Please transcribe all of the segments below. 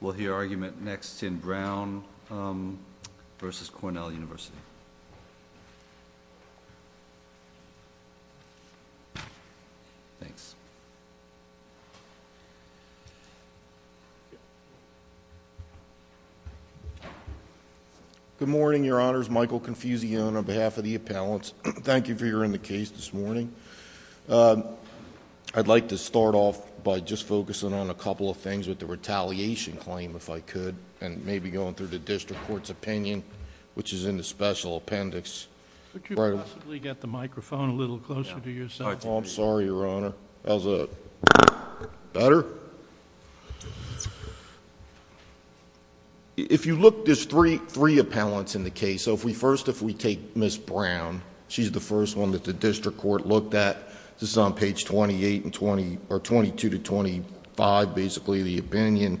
We'll hear argument next in Brown v. Cornell University. Thanks. Good morning, Your Honors. Michael Confusio on behalf of the appellants. Thank you for hearing the case this morning. I'd like to start off by just focusing on a couple of things with the retaliation claim, if I could. And maybe going through the district court's opinion, which is in the special appendix. Could you possibly get the microphone a little closer to yourself? I'm sorry, Your Honor. How's that? Better? If you look, there's three appellants in the case. So first, if we take Ms. Brown, she's the first one that the district court looked at. This is on page 22-25, basically, the opinion.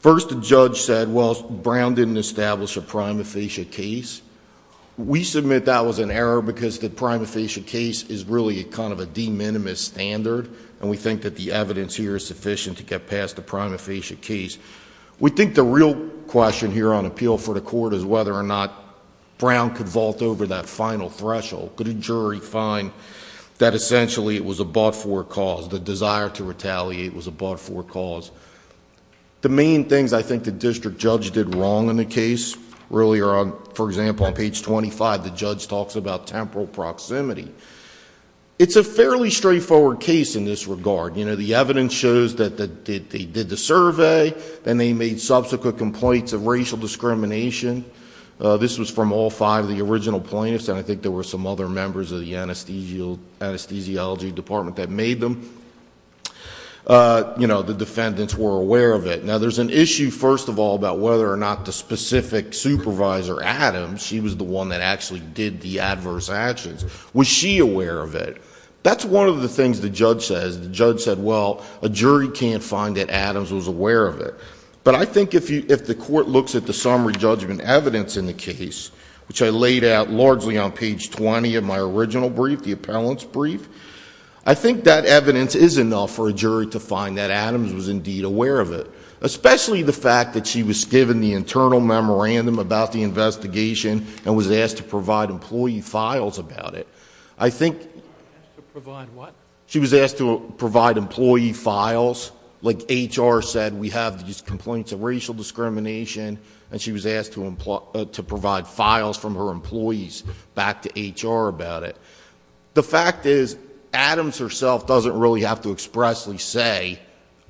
First, the judge said, well, Brown didn't establish a prima facie case. We submit that was an error because the prima facie case is really kind of a de minimis standard. And we think that the evidence here is sufficient to get past the prima facie case. We think the real question here on appeal for the court is whether or not Brown could vault over that final threshold. Could a jury find that essentially it was a but-for cause, the desire to retaliate was a but-for cause? The main things I think the district judge did wrong in the case, really, are on... For example, on page 25, the judge talks about temporal proximity. It's a fairly straightforward case in this regard. The evidence shows that they did the survey and they made subsequent complaints of racial discrimination. This was from all five of the original plaintiffs, and I think there were some other members of the anesthesiology department that made them. The defendants were aware of it. Now, there's an issue, first of all, about whether or not the specific supervisor, Adams, she was the one that actually did the adverse actions. Was she aware of it? That's one of the things the judge says. The judge said, well, a jury can't find that Adams was aware of it. But I think if the court looks at the summary judgment evidence in the case, which I laid out largely on page 20 of my original brief, the appellant's brief, I think that evidence is enough for a jury to find that Adams was indeed aware of it, especially the fact that she was given the internal memorandum about the investigation and was asked to provide employee files about it. She was asked to provide what? She was asked to provide employee files. Like HR said, we have these complaints of racial discrimination, and she was asked to provide files from her employees back to HR about it. The fact is, Adams herself doesn't really have to expressly say,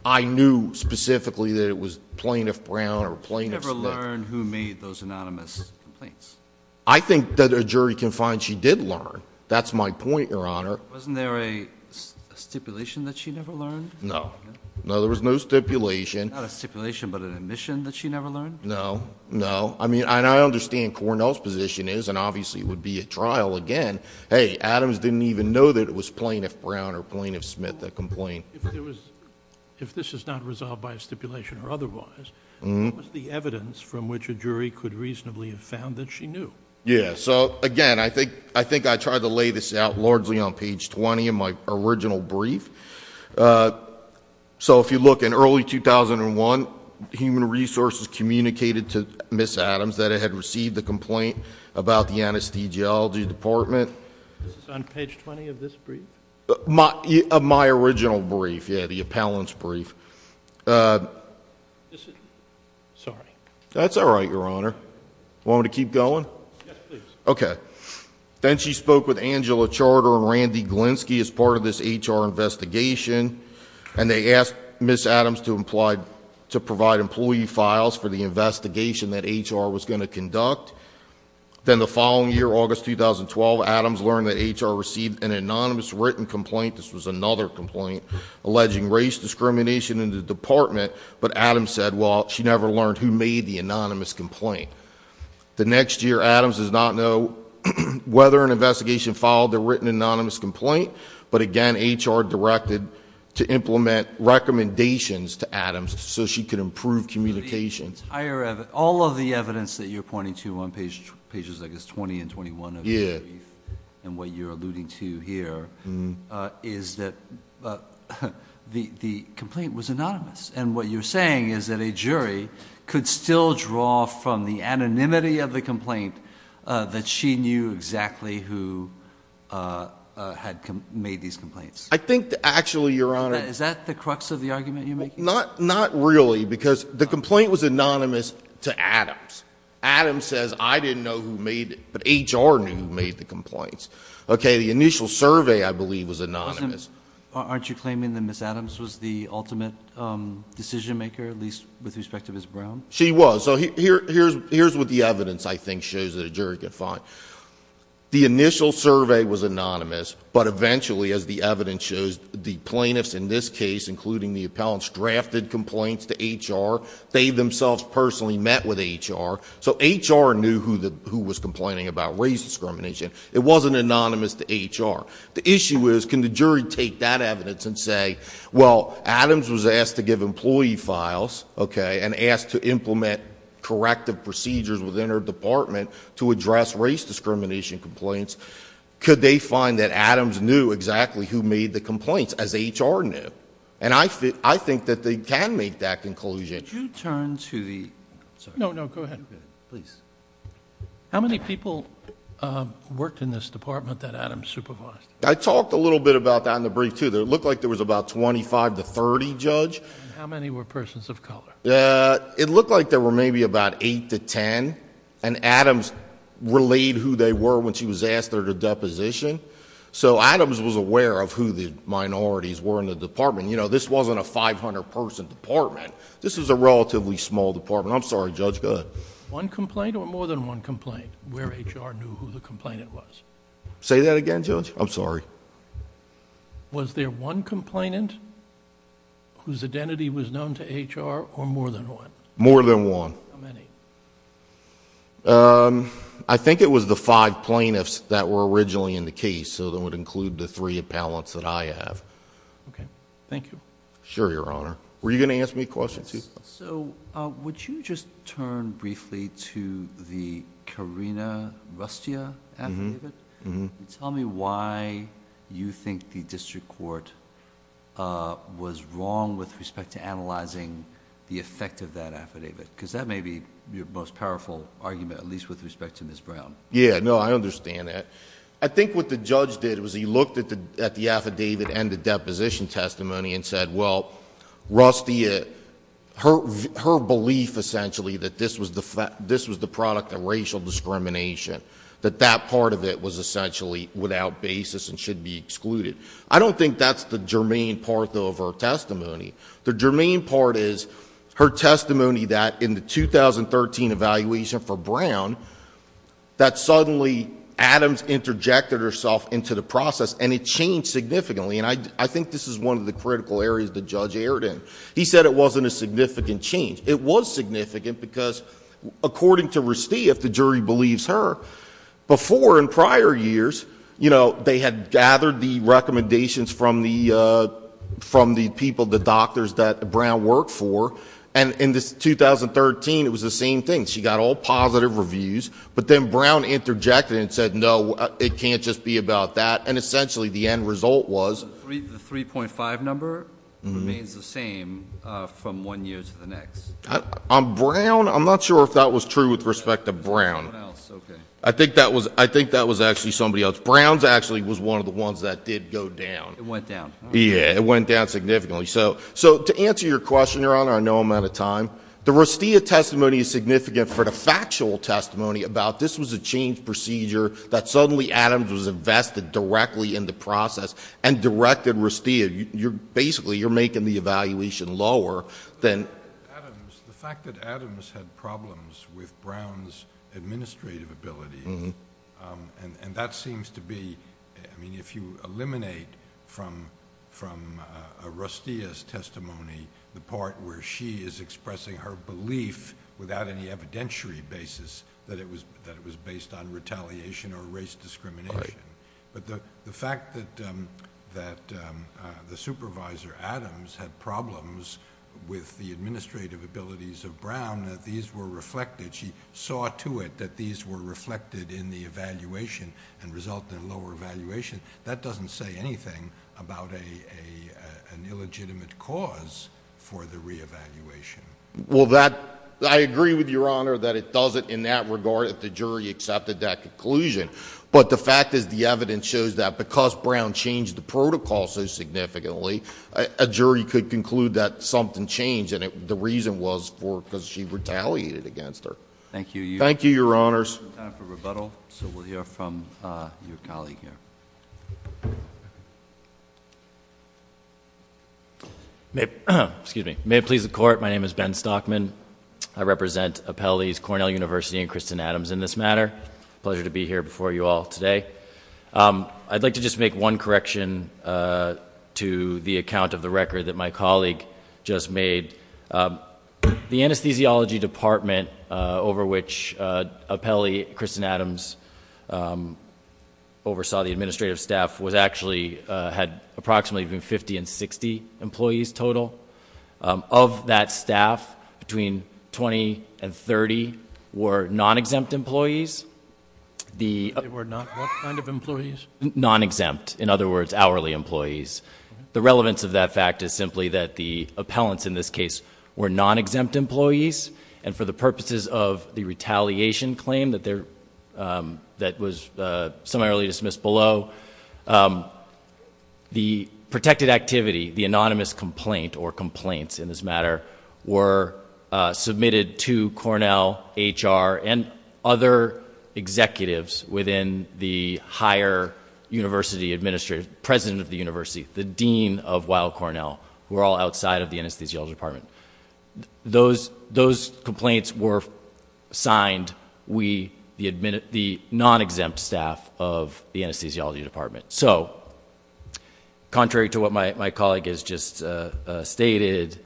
I knew specifically that it was Plaintiff Brown or Plaintiff Smith. She never learned who made those anonymous complaints. I think that a jury can find she did learn. That's my point, Your Honor. Wasn't there a stipulation that she never learned? No. No, there was no stipulation. Not a stipulation, but an admission that she never learned? No. No. I mean, and I understand Cornell's position is, and obviously it would be at trial again, hey, Adams didn't even know that it was Plaintiff Brown or Plaintiff Smith that complained. If this is not resolved by a stipulation or otherwise, what was the evidence from which a jury could reasonably have found that she knew? Yeah, so again, I think I tried to lay this out largely on page 20 of my original brief. So if you look, in early 2001, Human Resources communicated to Ms. Adams that it had received a complaint about the anesthesiology department. This is on page 20 of this brief? My original brief, yeah, the appellant's brief. Sorry. That's all right, Your Honor. Want me to keep going? Yes, please. Okay. Then she spoke with Angela Charter and Randy Glinski as part of this HR investigation, and they asked Ms. Adams to provide employee files for the investigation that HR was going to conduct. Then the following year, August 2012, Adams learned that HR received an anonymous written complaint, this was another complaint, alleging race discrimination in the department, but Adams said, well, she never learned who made the anonymous complaint. The next year, Adams does not know whether an investigation filed a written anonymous complaint, but again, HR directed to implement recommendations to Adams so she could improve communications. All of the evidence that you're pointing to on pages, I guess, 20 and 21 of your brief, and what you're alluding to here, is that the complaint was anonymous, and what you're saying is that a jury could still draw from the anonymity of the complaint that she knew exactly who had made these complaints. I think, actually, Your Honor— Is that the crux of the argument you're making? Not really, because the complaint was anonymous to Adams. Adams says, I didn't know who made it, but HR knew who made the complaints. Okay, the initial survey, I believe, was anonymous. Aren't you claiming that Ms. Adams was the ultimate decision maker, at least with respect to Ms. Brown? She was. So here's what the evidence, I think, shows that a jury could find. The initial survey was anonymous, but eventually, as the evidence shows, the plaintiffs in this case, including the appellants, drafted complaints to HR. They themselves personally met with HR, so HR knew who was complaining about race discrimination. It wasn't anonymous to HR. The issue is, can the jury take that evidence and say, well, Adams was asked to give employee files, okay, and asked to implement corrective procedures within her department to address race discrimination complaints. Could they find that Adams knew exactly who made the complaints, as HR knew? And I think that they can make that conclusion. Could you turn to the— No, no, go ahead. Please. How many people worked in this department that Adams supervised? I talked a little bit about that in the brief, too. It looked like there was about twenty-five to thirty, Judge. How many were persons of color? It looked like there were maybe about eight to ten, and Adams relayed who they were when she was asked there to deposition. So Adams was aware of who the minorities were in the department. You know, this wasn't a 500-person department. I'm sorry, Judge, go ahead. Was there one complaint or more than one complaint where HR knew who the complainant was? Say that again, Judge. I'm sorry. Was there one complainant whose identity was known to HR or more than one? More than one. How many? I think it was the five plaintiffs that were originally in the case, so that would include the three appellants that I have. Okay. Sure, Your Honor. Were you going to ask me a question, too? So would you just turn briefly to the Karina Rustia affidavit? Tell me why you think the district court was wrong with respect to analyzing the effect of that affidavit, because that may be your most powerful argument, at least with respect to Ms. Brown. Yeah, no, I understand that. I think what the judge did was he looked at the affidavit and the deposition testimony and said, well, Rustia, her belief essentially that this was the product of racial discrimination, that that part of it was essentially without basis and should be excluded. I don't think that's the germane part, though, of her testimony. The germane part is her testimony that in the 2013 evaluation for Brown, that suddenly Adams interjected herself into the process, and it changed significantly. And I think this is one of the critical areas the judge erred in. He said it wasn't a significant change. It was significant because according to Rustia, if the jury believes her, before in prior years, you know, they had gathered the recommendations from the people, the doctors that Brown worked for, and in 2013 it was the same thing. She got all positive reviews, but then Brown interjected and said, no, it can't just be about that. And essentially the end result was. The 3.5 number remains the same from one year to the next. On Brown, I'm not sure if that was true with respect to Brown. I think that was actually somebody else. Brown's actually was one of the ones that did go down. It went down. Yeah, it went down significantly. So to answer your question, Your Honor, I know I'm out of time. The Rustia testimony is significant for the factual testimony about this was a change procedure that suddenly Adams was invested directly in the process and directed Rustia. Basically, you're making the evaluation lower than. The fact that Adams had problems with Brown's administrative ability, and that seems to be, I mean, if you eliminate from Rustia's testimony, the part where she is expressing her belief without any evidentiary basis that it was based on retaliation or race discrimination. But the fact that the supervisor Adams had problems with the administrative abilities of Brown, that these were reflected, she saw to it that these were reflected in the evaluation and resulted in lower evaluation. That doesn't say anything about an illegitimate cause for the reevaluation. Well, I agree with Your Honor that it doesn't in that regard if the jury accepted that conclusion. But the fact is the evidence shows that because Brown changed the protocol so significantly, a jury could conclude that something changed, and the reason was because she retaliated against her. Thank you. Thank you, Your Honors. We have time for rebuttal, so we'll hear from your colleague here. May it please the Court, my name is Ben Stockman. I represent Apelli's Cornell University and Kristen Adams in this matter. Pleasure to be here before you all today. I'd like to just make one correction to the account of the record that my colleague just made. The anesthesiology department over which Apelli, Kristen Adams, oversaw the administrative staff actually had approximately between 50 and 60 employees total. Of that staff, between 20 and 30 were non-exempt employees. They were not what kind of employees? Non-exempt, in other words, hourly employees. The relevance of that fact is simply that the appellants in this case were non-exempt employees, and for the purposes of the retaliation claim that was summarily dismissed below, the protected activity, the anonymous complaint or complaints in this matter, were submitted to Cornell, HR, and other executives within the higher university administrative, president of the university, the dean of Weill Cornell, who were all outside of the anesthesiology department. Those complaints were signed, the non-exempt staff of the anesthesiology department. So, contrary to what my colleague has just stated,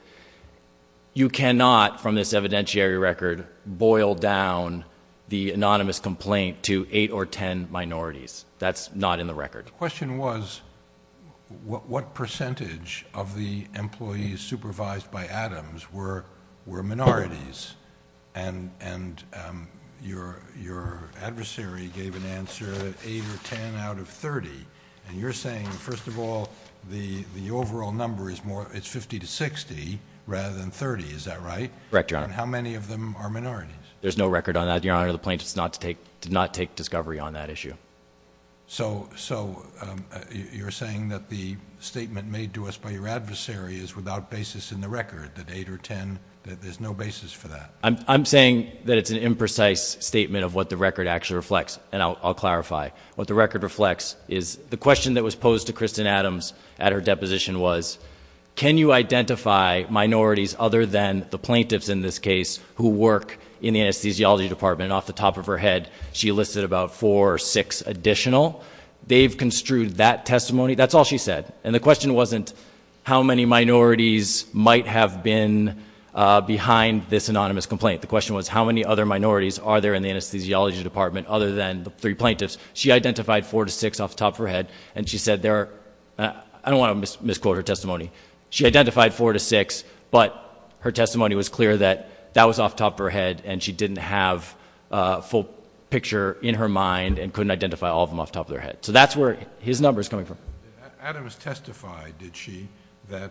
you cannot, from this evidentiary record, boil down the anonymous complaint to eight or ten minorities. That's not in the record. But the question was, what percentage of the employees supervised by Adams were minorities? And your adversary gave an answer, eight or ten out of 30. And you're saying, first of all, the overall number is 50 to 60 rather than 30, is that right? Correct, Your Honor. And how many of them are minorities? There's no record on that, Your Honor. The plaintiffs did not take discovery on that issue. So, you're saying that the statement made to us by your adversary is without basis in the record, that eight or ten, that there's no basis for that? I'm saying that it's an imprecise statement of what the record actually reflects, and I'll clarify. What the record reflects is the question that was posed to Kristen Adams at her deposition was, can you identify minorities other than the plaintiffs in this case who work in the anesthesiology department? And off the top of her head, she listed about four or six additional. They've construed that testimony. That's all she said. And the question wasn't, how many minorities might have been behind this anonymous complaint? The question was, how many other minorities are there in the anesthesiology department other than the three plaintiffs? She identified four to six off the top of her head, and she said there are, I don't want to misquote her testimony. She identified four to six, but her testimony was clear that that was off the top of her head, and she didn't have a full picture in her mind and couldn't identify all of them off the top of their head. So that's where his number is coming from. Adams testified, did she, that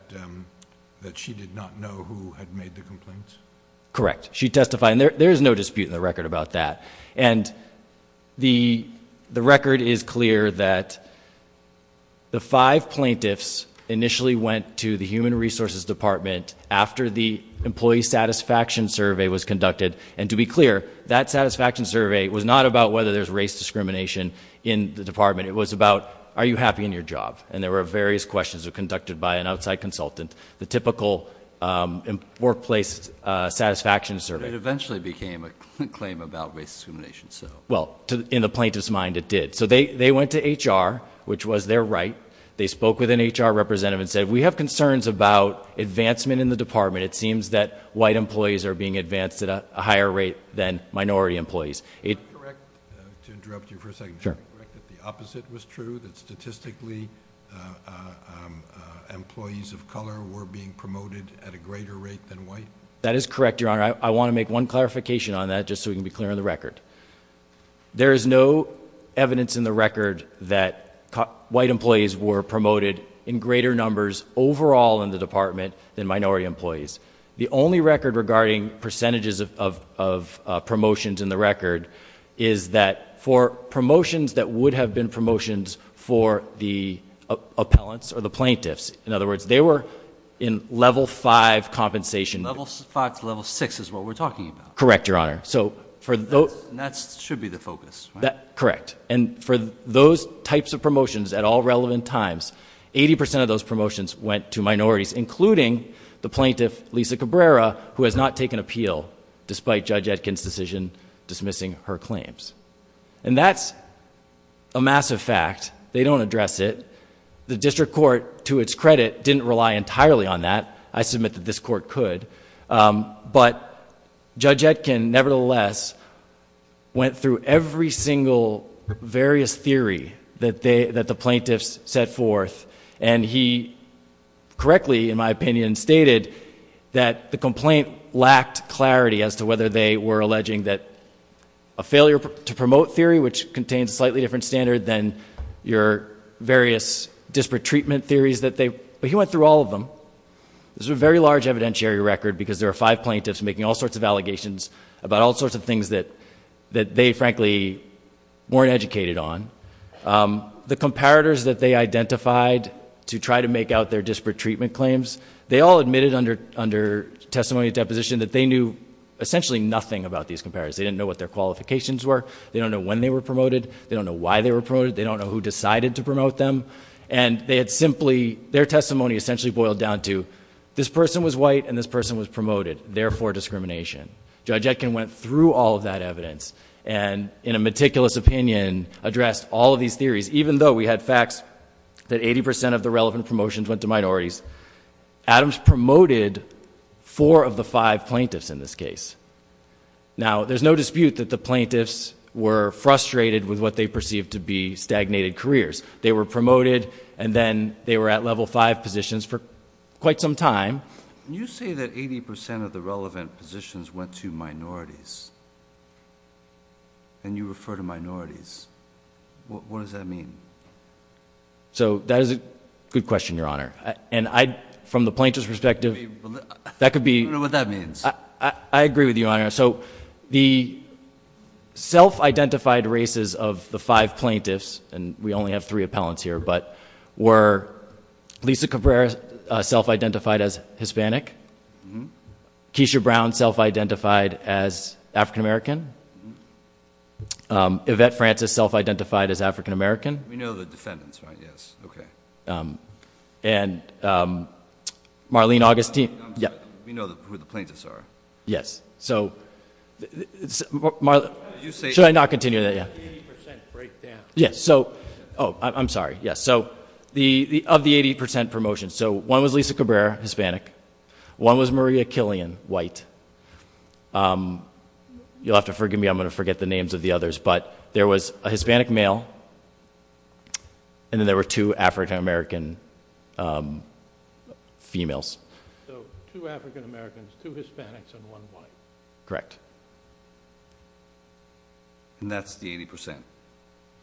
she did not know who had made the complaints? Correct. She testified, and there is no dispute in the record about that. And the record is clear that the five plaintiffs initially went to the human resources department after the employee satisfaction survey was conducted. And to be clear, that satisfaction survey was not about whether there's race discrimination in the department. It was about, are you happy in your job? And there were various questions that were conducted by an outside consultant, the typical workplace satisfaction survey. But it eventually became a claim about race discrimination. Well, in the plaintiff's mind, it did. So they went to HR, which was their right. They spoke with an HR representative and said, we have concerns about advancement in the department. It seems that white employees are being advanced at a higher rate than minority employees. To interrupt you for a second, is it correct that the opposite was true, that statistically employees of color were being promoted at a greater rate than white? That is correct, Your Honor. I want to make one clarification on that just so we can be clear on the record. There is no evidence in the record that white employees were promoted in greater numbers overall in the department than minority employees. The only record regarding percentages of promotions in the record is that for promotions that would have been promotions for the appellants or the plaintiffs, in other words, they were in level 5 compensation. Level 5 to level 6 is what we're talking about. Correct, Your Honor. And that should be the focus, right? Correct. And for those types of promotions at all relevant times, 80% of those promotions went to minorities, including the plaintiff, Lisa Cabrera, who has not taken appeal, despite Judge Etkin's decision dismissing her claims. And that's a massive fact. They don't address it. The district court, to its credit, didn't rely entirely on that. I submit that this court could. But Judge Etkin, nevertheless, went through every single various theory that the plaintiffs set forth, and he correctly, in my opinion, stated that the complaint lacked clarity as to whether they were alleging that a failure to promote theory, which contains a slightly different standard than your various disparate treatment theories, but he went through all of them. This was a very large evidentiary record because there were five plaintiffs making all sorts of allegations about all sorts of things that they, frankly, weren't educated on. The comparators that they identified to try to make out their disparate treatment claims, they all admitted under testimony and deposition that they knew essentially nothing about these comparators. They didn't know what their qualifications were. They don't know when they were promoted. They don't know why they were promoted. They don't know who decided to promote them. And they had simply, their testimony essentially boiled down to, this person was white and this person was promoted, therefore discrimination. Judge Etkin went through all of that evidence and, in a meticulous opinion, addressed all of these theories, even though we had facts that 80 percent of the relevant promotions went to minorities. Adams promoted four of the five plaintiffs in this case. Now, there's no dispute that the plaintiffs were frustrated with what they perceived to be stagnated careers. They were promoted, and then they were at level five positions for quite some time. You say that 80 percent of the relevant positions went to minorities, and you refer to minorities. What does that mean? So, that is a good question, Your Honor. And I, from the plaintiff's perspective, that could be. I don't know what that means. I agree with you, Your Honor. So, the self-identified races of the five plaintiffs, and we only have three appellants here, but were Lisa Cabrera self-identified as Hispanic, Keisha Brown self-identified as African American, Yvette Francis self-identified as African American. We know the defendants, right? Yes. Okay. And Marlene Augustine. We know who the plaintiffs are. Yes. So, Marlene, should I not continue that yet? The 80 percent breakdown. Yes. So, oh, I'm sorry. Yes. So, of the 80 percent promotion, so one was Lisa Cabrera, Hispanic. One was Maria Killian, white. You'll have to forgive me. I'm going to forget the names of the others. But there was a Hispanic male, and then there were two African American females. So, two African Americans, two Hispanics, and one white. Correct. And that's the 80 percent?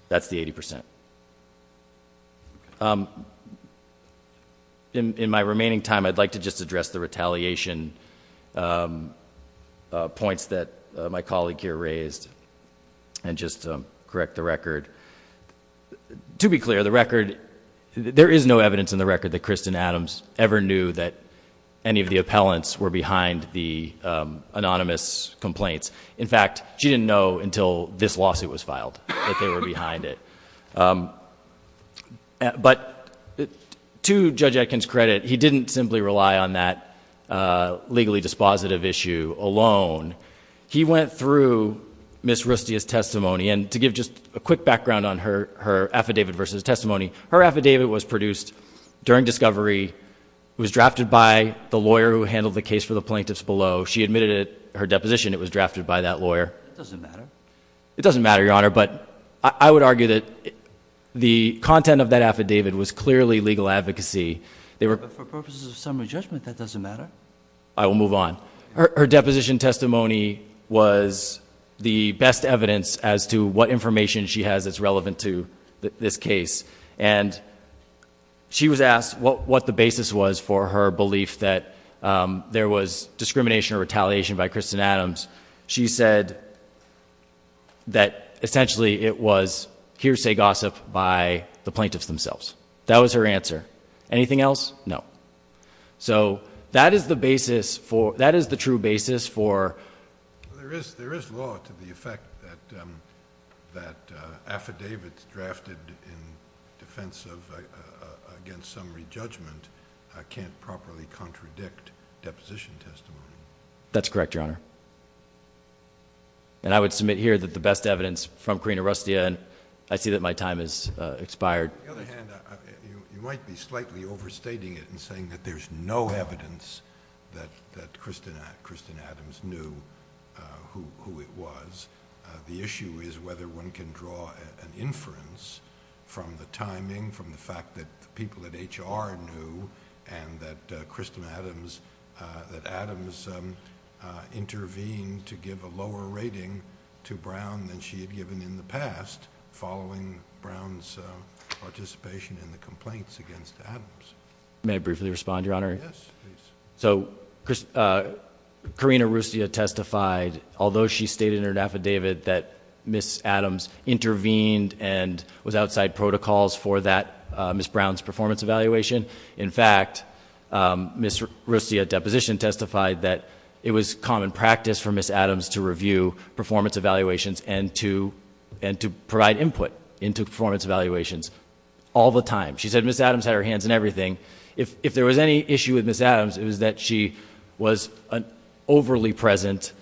That's the 80 percent. Okay. In my remaining time, I'd like to just address the retaliation points that my colleague here raised, and just correct the record. To be clear, the record, there is no evidence in the record that Kristen Adams ever knew that any of the appellants were behind the anonymous complaints. In fact, she didn't know until this lawsuit was filed that they were behind it. But to Judge Atkins' credit, he didn't simply rely on that legally dispositive issue alone. He went through Ms. Rustia's testimony, and to give just a quick background on her affidavit versus testimony, her affidavit was produced during discovery, was drafted by the lawyer who handled the case for the plaintiffs below. She admitted it, her deposition, it was drafted by that lawyer. That doesn't matter. It doesn't matter, Your Honor. But I would argue that the content of that affidavit was clearly legal advocacy. But for purposes of summary judgment, that doesn't matter. I will move on. Her deposition testimony was the best evidence as to what information she has that's relevant to this case. And she was asked what the basis was for her belief that there was discrimination or retaliation by Kristen Adams. She said that essentially it was hearsay gossip by the plaintiffs themselves. That was her answer. Anything else? No. So that is the basis for, that is the true basis for. There is law to the effect that affidavits drafted in defense of, against summary judgment can't properly contradict deposition testimony. That's correct, Your Honor. And I would submit here that the best evidence from Karina Rustia, and I see that my time has expired. On the other hand, you might be slightly overstating it in saying that there's no evidence that Kristen Adams knew who it was. The issue is whether one can draw an inference from the timing, from the fact that the people at HR knew, and that Kristen Adams, that Adams intervened to give a lower rating to Brown than she had given in the past following Brown's participation in the complaints against Adams. May I briefly respond, Your Honor? Yes, please. So Karina Rustia testified, although she stated in her affidavit that Ms. Adams intervened and was outside protocols for that Ms. Brown's performance evaluation, in fact, Ms. Rustia's deposition testified that it was common practice for Ms. Adams to review performance evaluations and to provide input into performance evaluations all the time. She said Ms. Adams had her hands in everything. If there was any issue with Ms. Adams, it was that she was an overly present,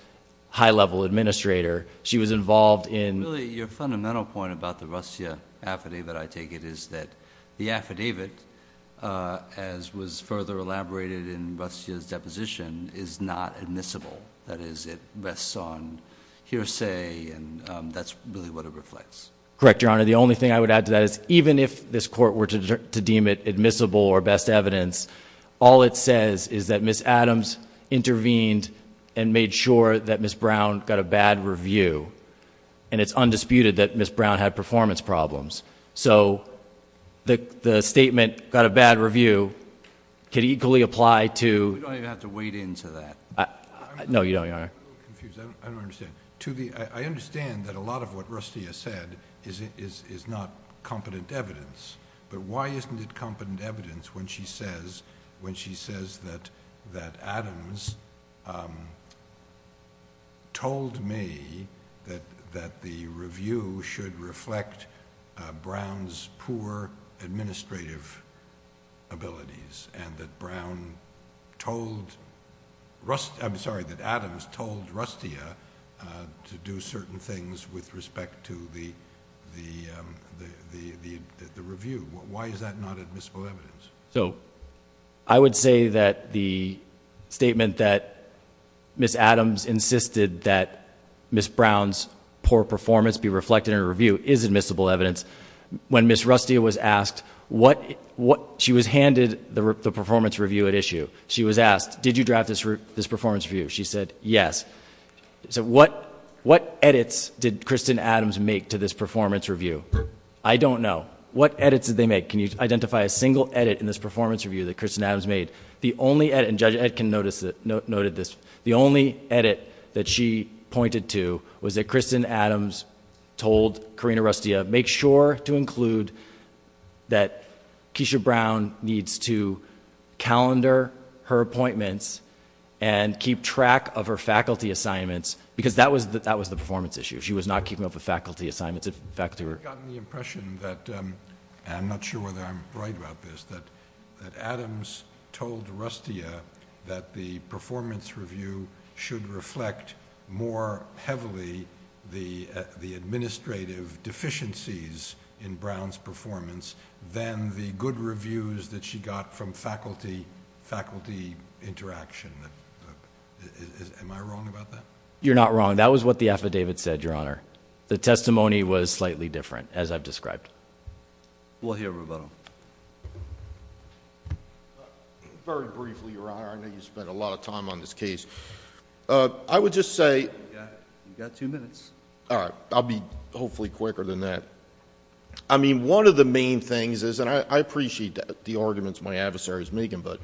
high-level administrator. She was involved in- Really, your fundamental point about the Rustia affidavit, I take it, is that the affidavit, as was further elaborated in Rustia's deposition, is not admissible. That is, it rests on hearsay, and that's really what it reflects. Correct, Your Honor. The only thing I would add to that is even if this Court were to deem it admissible or best evidence, all it says is that Ms. Adams intervened and made sure that Ms. Brown got a bad review, and it's undisputed that Ms. Brown had performance problems. So the statement, got a bad review, could equally apply to- You don't even have to wade into that. No, Your Honor. I'm a little confused. I don't understand. I understand that a lot of what Rustia said is not competent evidence, but why isn't it competent evidence when she says that Adams told me that the review should reflect Brown's poor administrative abilities, and that Adams told Rustia to do certain things with respect to the review? Why is that not admissible evidence? I would say that the statement that Ms. Adams insisted that Ms. Brown's poor performance be reflected in her review is admissible evidence. When Ms. Rustia was asked, she was handed the performance review at issue. She was asked, did you draft this performance review? She said, yes. So what edits did Kristen Adams make to this performance review? I don't know. What edits did they make? Can you identify a single edit in this performance review that Kristen Adams made? Judge Etkin noted this. The only edit that she pointed to was that Kristen Adams told Karina Rustia, make sure to include that Keisha Brown needs to calendar her appointments and keep track of her faculty assignments because that was the performance issue. She was not keeping up with faculty assignments. I've gotten the impression that, and I'm not sure whether I'm right about this, that Adams told Rustia that the performance review should reflect more heavily the administrative deficiencies in Brown's performance than the good reviews that she got from faculty interaction. Am I wrong about that? You're not wrong. That was what the affidavit said, Your Honor. The testimony was slightly different, as I've described. We'll hear from him. Very briefly, Your Honor, I know you spent a lot of time on this case. I would just say... You've got two minutes. All right. I'll be hopefully quicker than that. I mean, one of the main things is, and I appreciate the arguments my adversaries make, but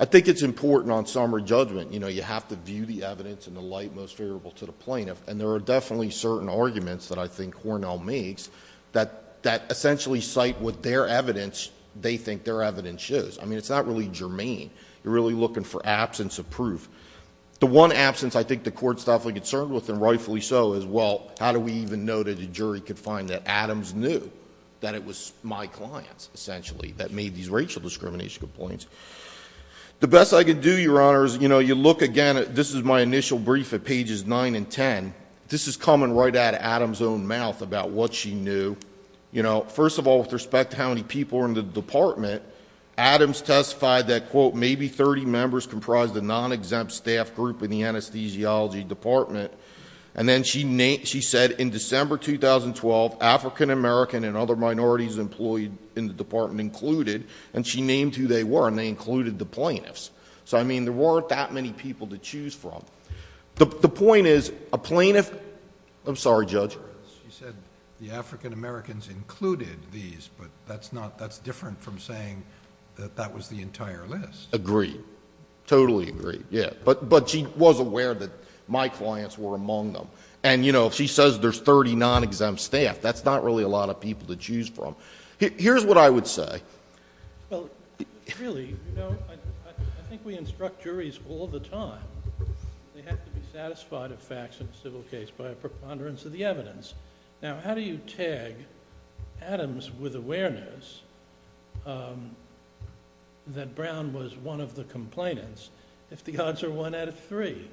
I think it's important on summary judgment. You have to view the evidence in the light most favorable to the plaintiff, and there are definitely certain arguments that I think Cornell makes that essentially cite what their evidence, they think their evidence is. I mean, it's not really germane. You're really looking for absence of proof. The one absence I think the Court's definitely concerned with, and rightfully so, is, well, how do we even know that a jury could find that Adams knew that it was my clients, essentially, that made these racial discrimination complaints? The best I could do, Your Honor, is, you know, you look again at... This is my initial brief at pages 9 and 10. This is coming right out of Adams' own mouth about what she knew. You know, first of all, with respect to how many people were in the department, Adams testified that, quote, maybe 30 members comprised a non-exempt staff group in the anesthesiology department. And then she said in December 2012, African-American and other minorities employed in the department included, and she named who they were, and they included the plaintiffs. So, I mean, there weren't that many people to choose from. The point is, a plaintiff... I'm sorry, Judge. She said the African-Americans included these, but that's different from saying that that was the entire list. Agreed. Totally agreed, yeah. But she was aware that my clients were among them. And, you know, if she says there's 30 non-exempt staff, that's not really a lot of people to choose from. Here's what I would say. Well, really, you know, I think we instruct juries all the time. They have to be satisfied of facts in a civil case by a preponderance of the evidence. Now, how do you tag Adams with awareness that Brown was one of the complainants if the odds are one out of three?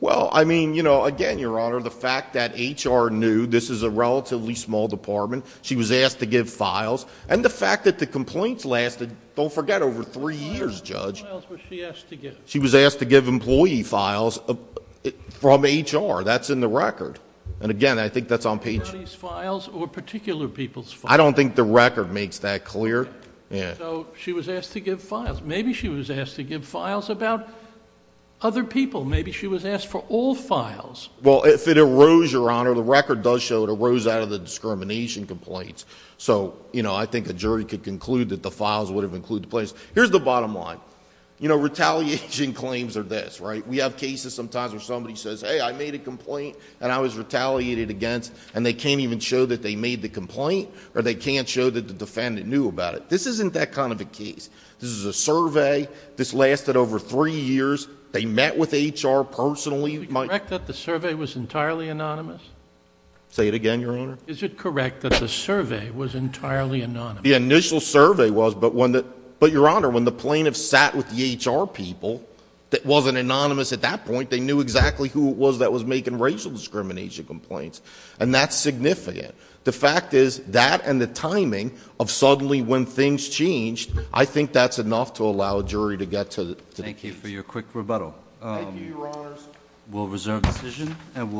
Well, I mean, you know, again, Your Honor, the fact that HR knew this is a relatively small department, she was asked to give files, and the fact that the complaints lasted, don't forget, over three years, Judge. How many files was she asked to give? She was asked to give employee files from HR. That's in the record. And, again, I think that's on page... Employee's files or particular people's files? I don't think the record makes that clear. So, she was asked to give files. Maybe she was asked to give files about other people. Maybe she was asked for all files. Well, if it arose, Your Honor, the record does show it arose out of the discrimination complaints. So, you know, I think a jury could conclude that the files would have included the complaints. Here's the bottom line. You know, retaliation claims are this, right? We have cases sometimes where somebody says, hey, I made a complaint, and I was retaliated against, and they can't even show that they made the complaint, or they can't show that the defendant knew about it. This isn't that kind of a case. This is a survey. This lasted over three years. They met with HR personally. Is it correct that the survey was entirely anonymous? Say it again, Your Honor? Is it correct that the survey was entirely anonymous? The initial survey was, but when the... But, Your Honor, when the plaintiff sat with the HR people, it wasn't anonymous at that point. They knew exactly who it was that was making racial discrimination complaints. And that's significant. The fact is, that and the timing of suddenly when things changed, I think that's enough to allow a jury to get to the case. Thank you for your quick rebuttal. Thank you, Your Honors. We'll reserve the decision, and we'll...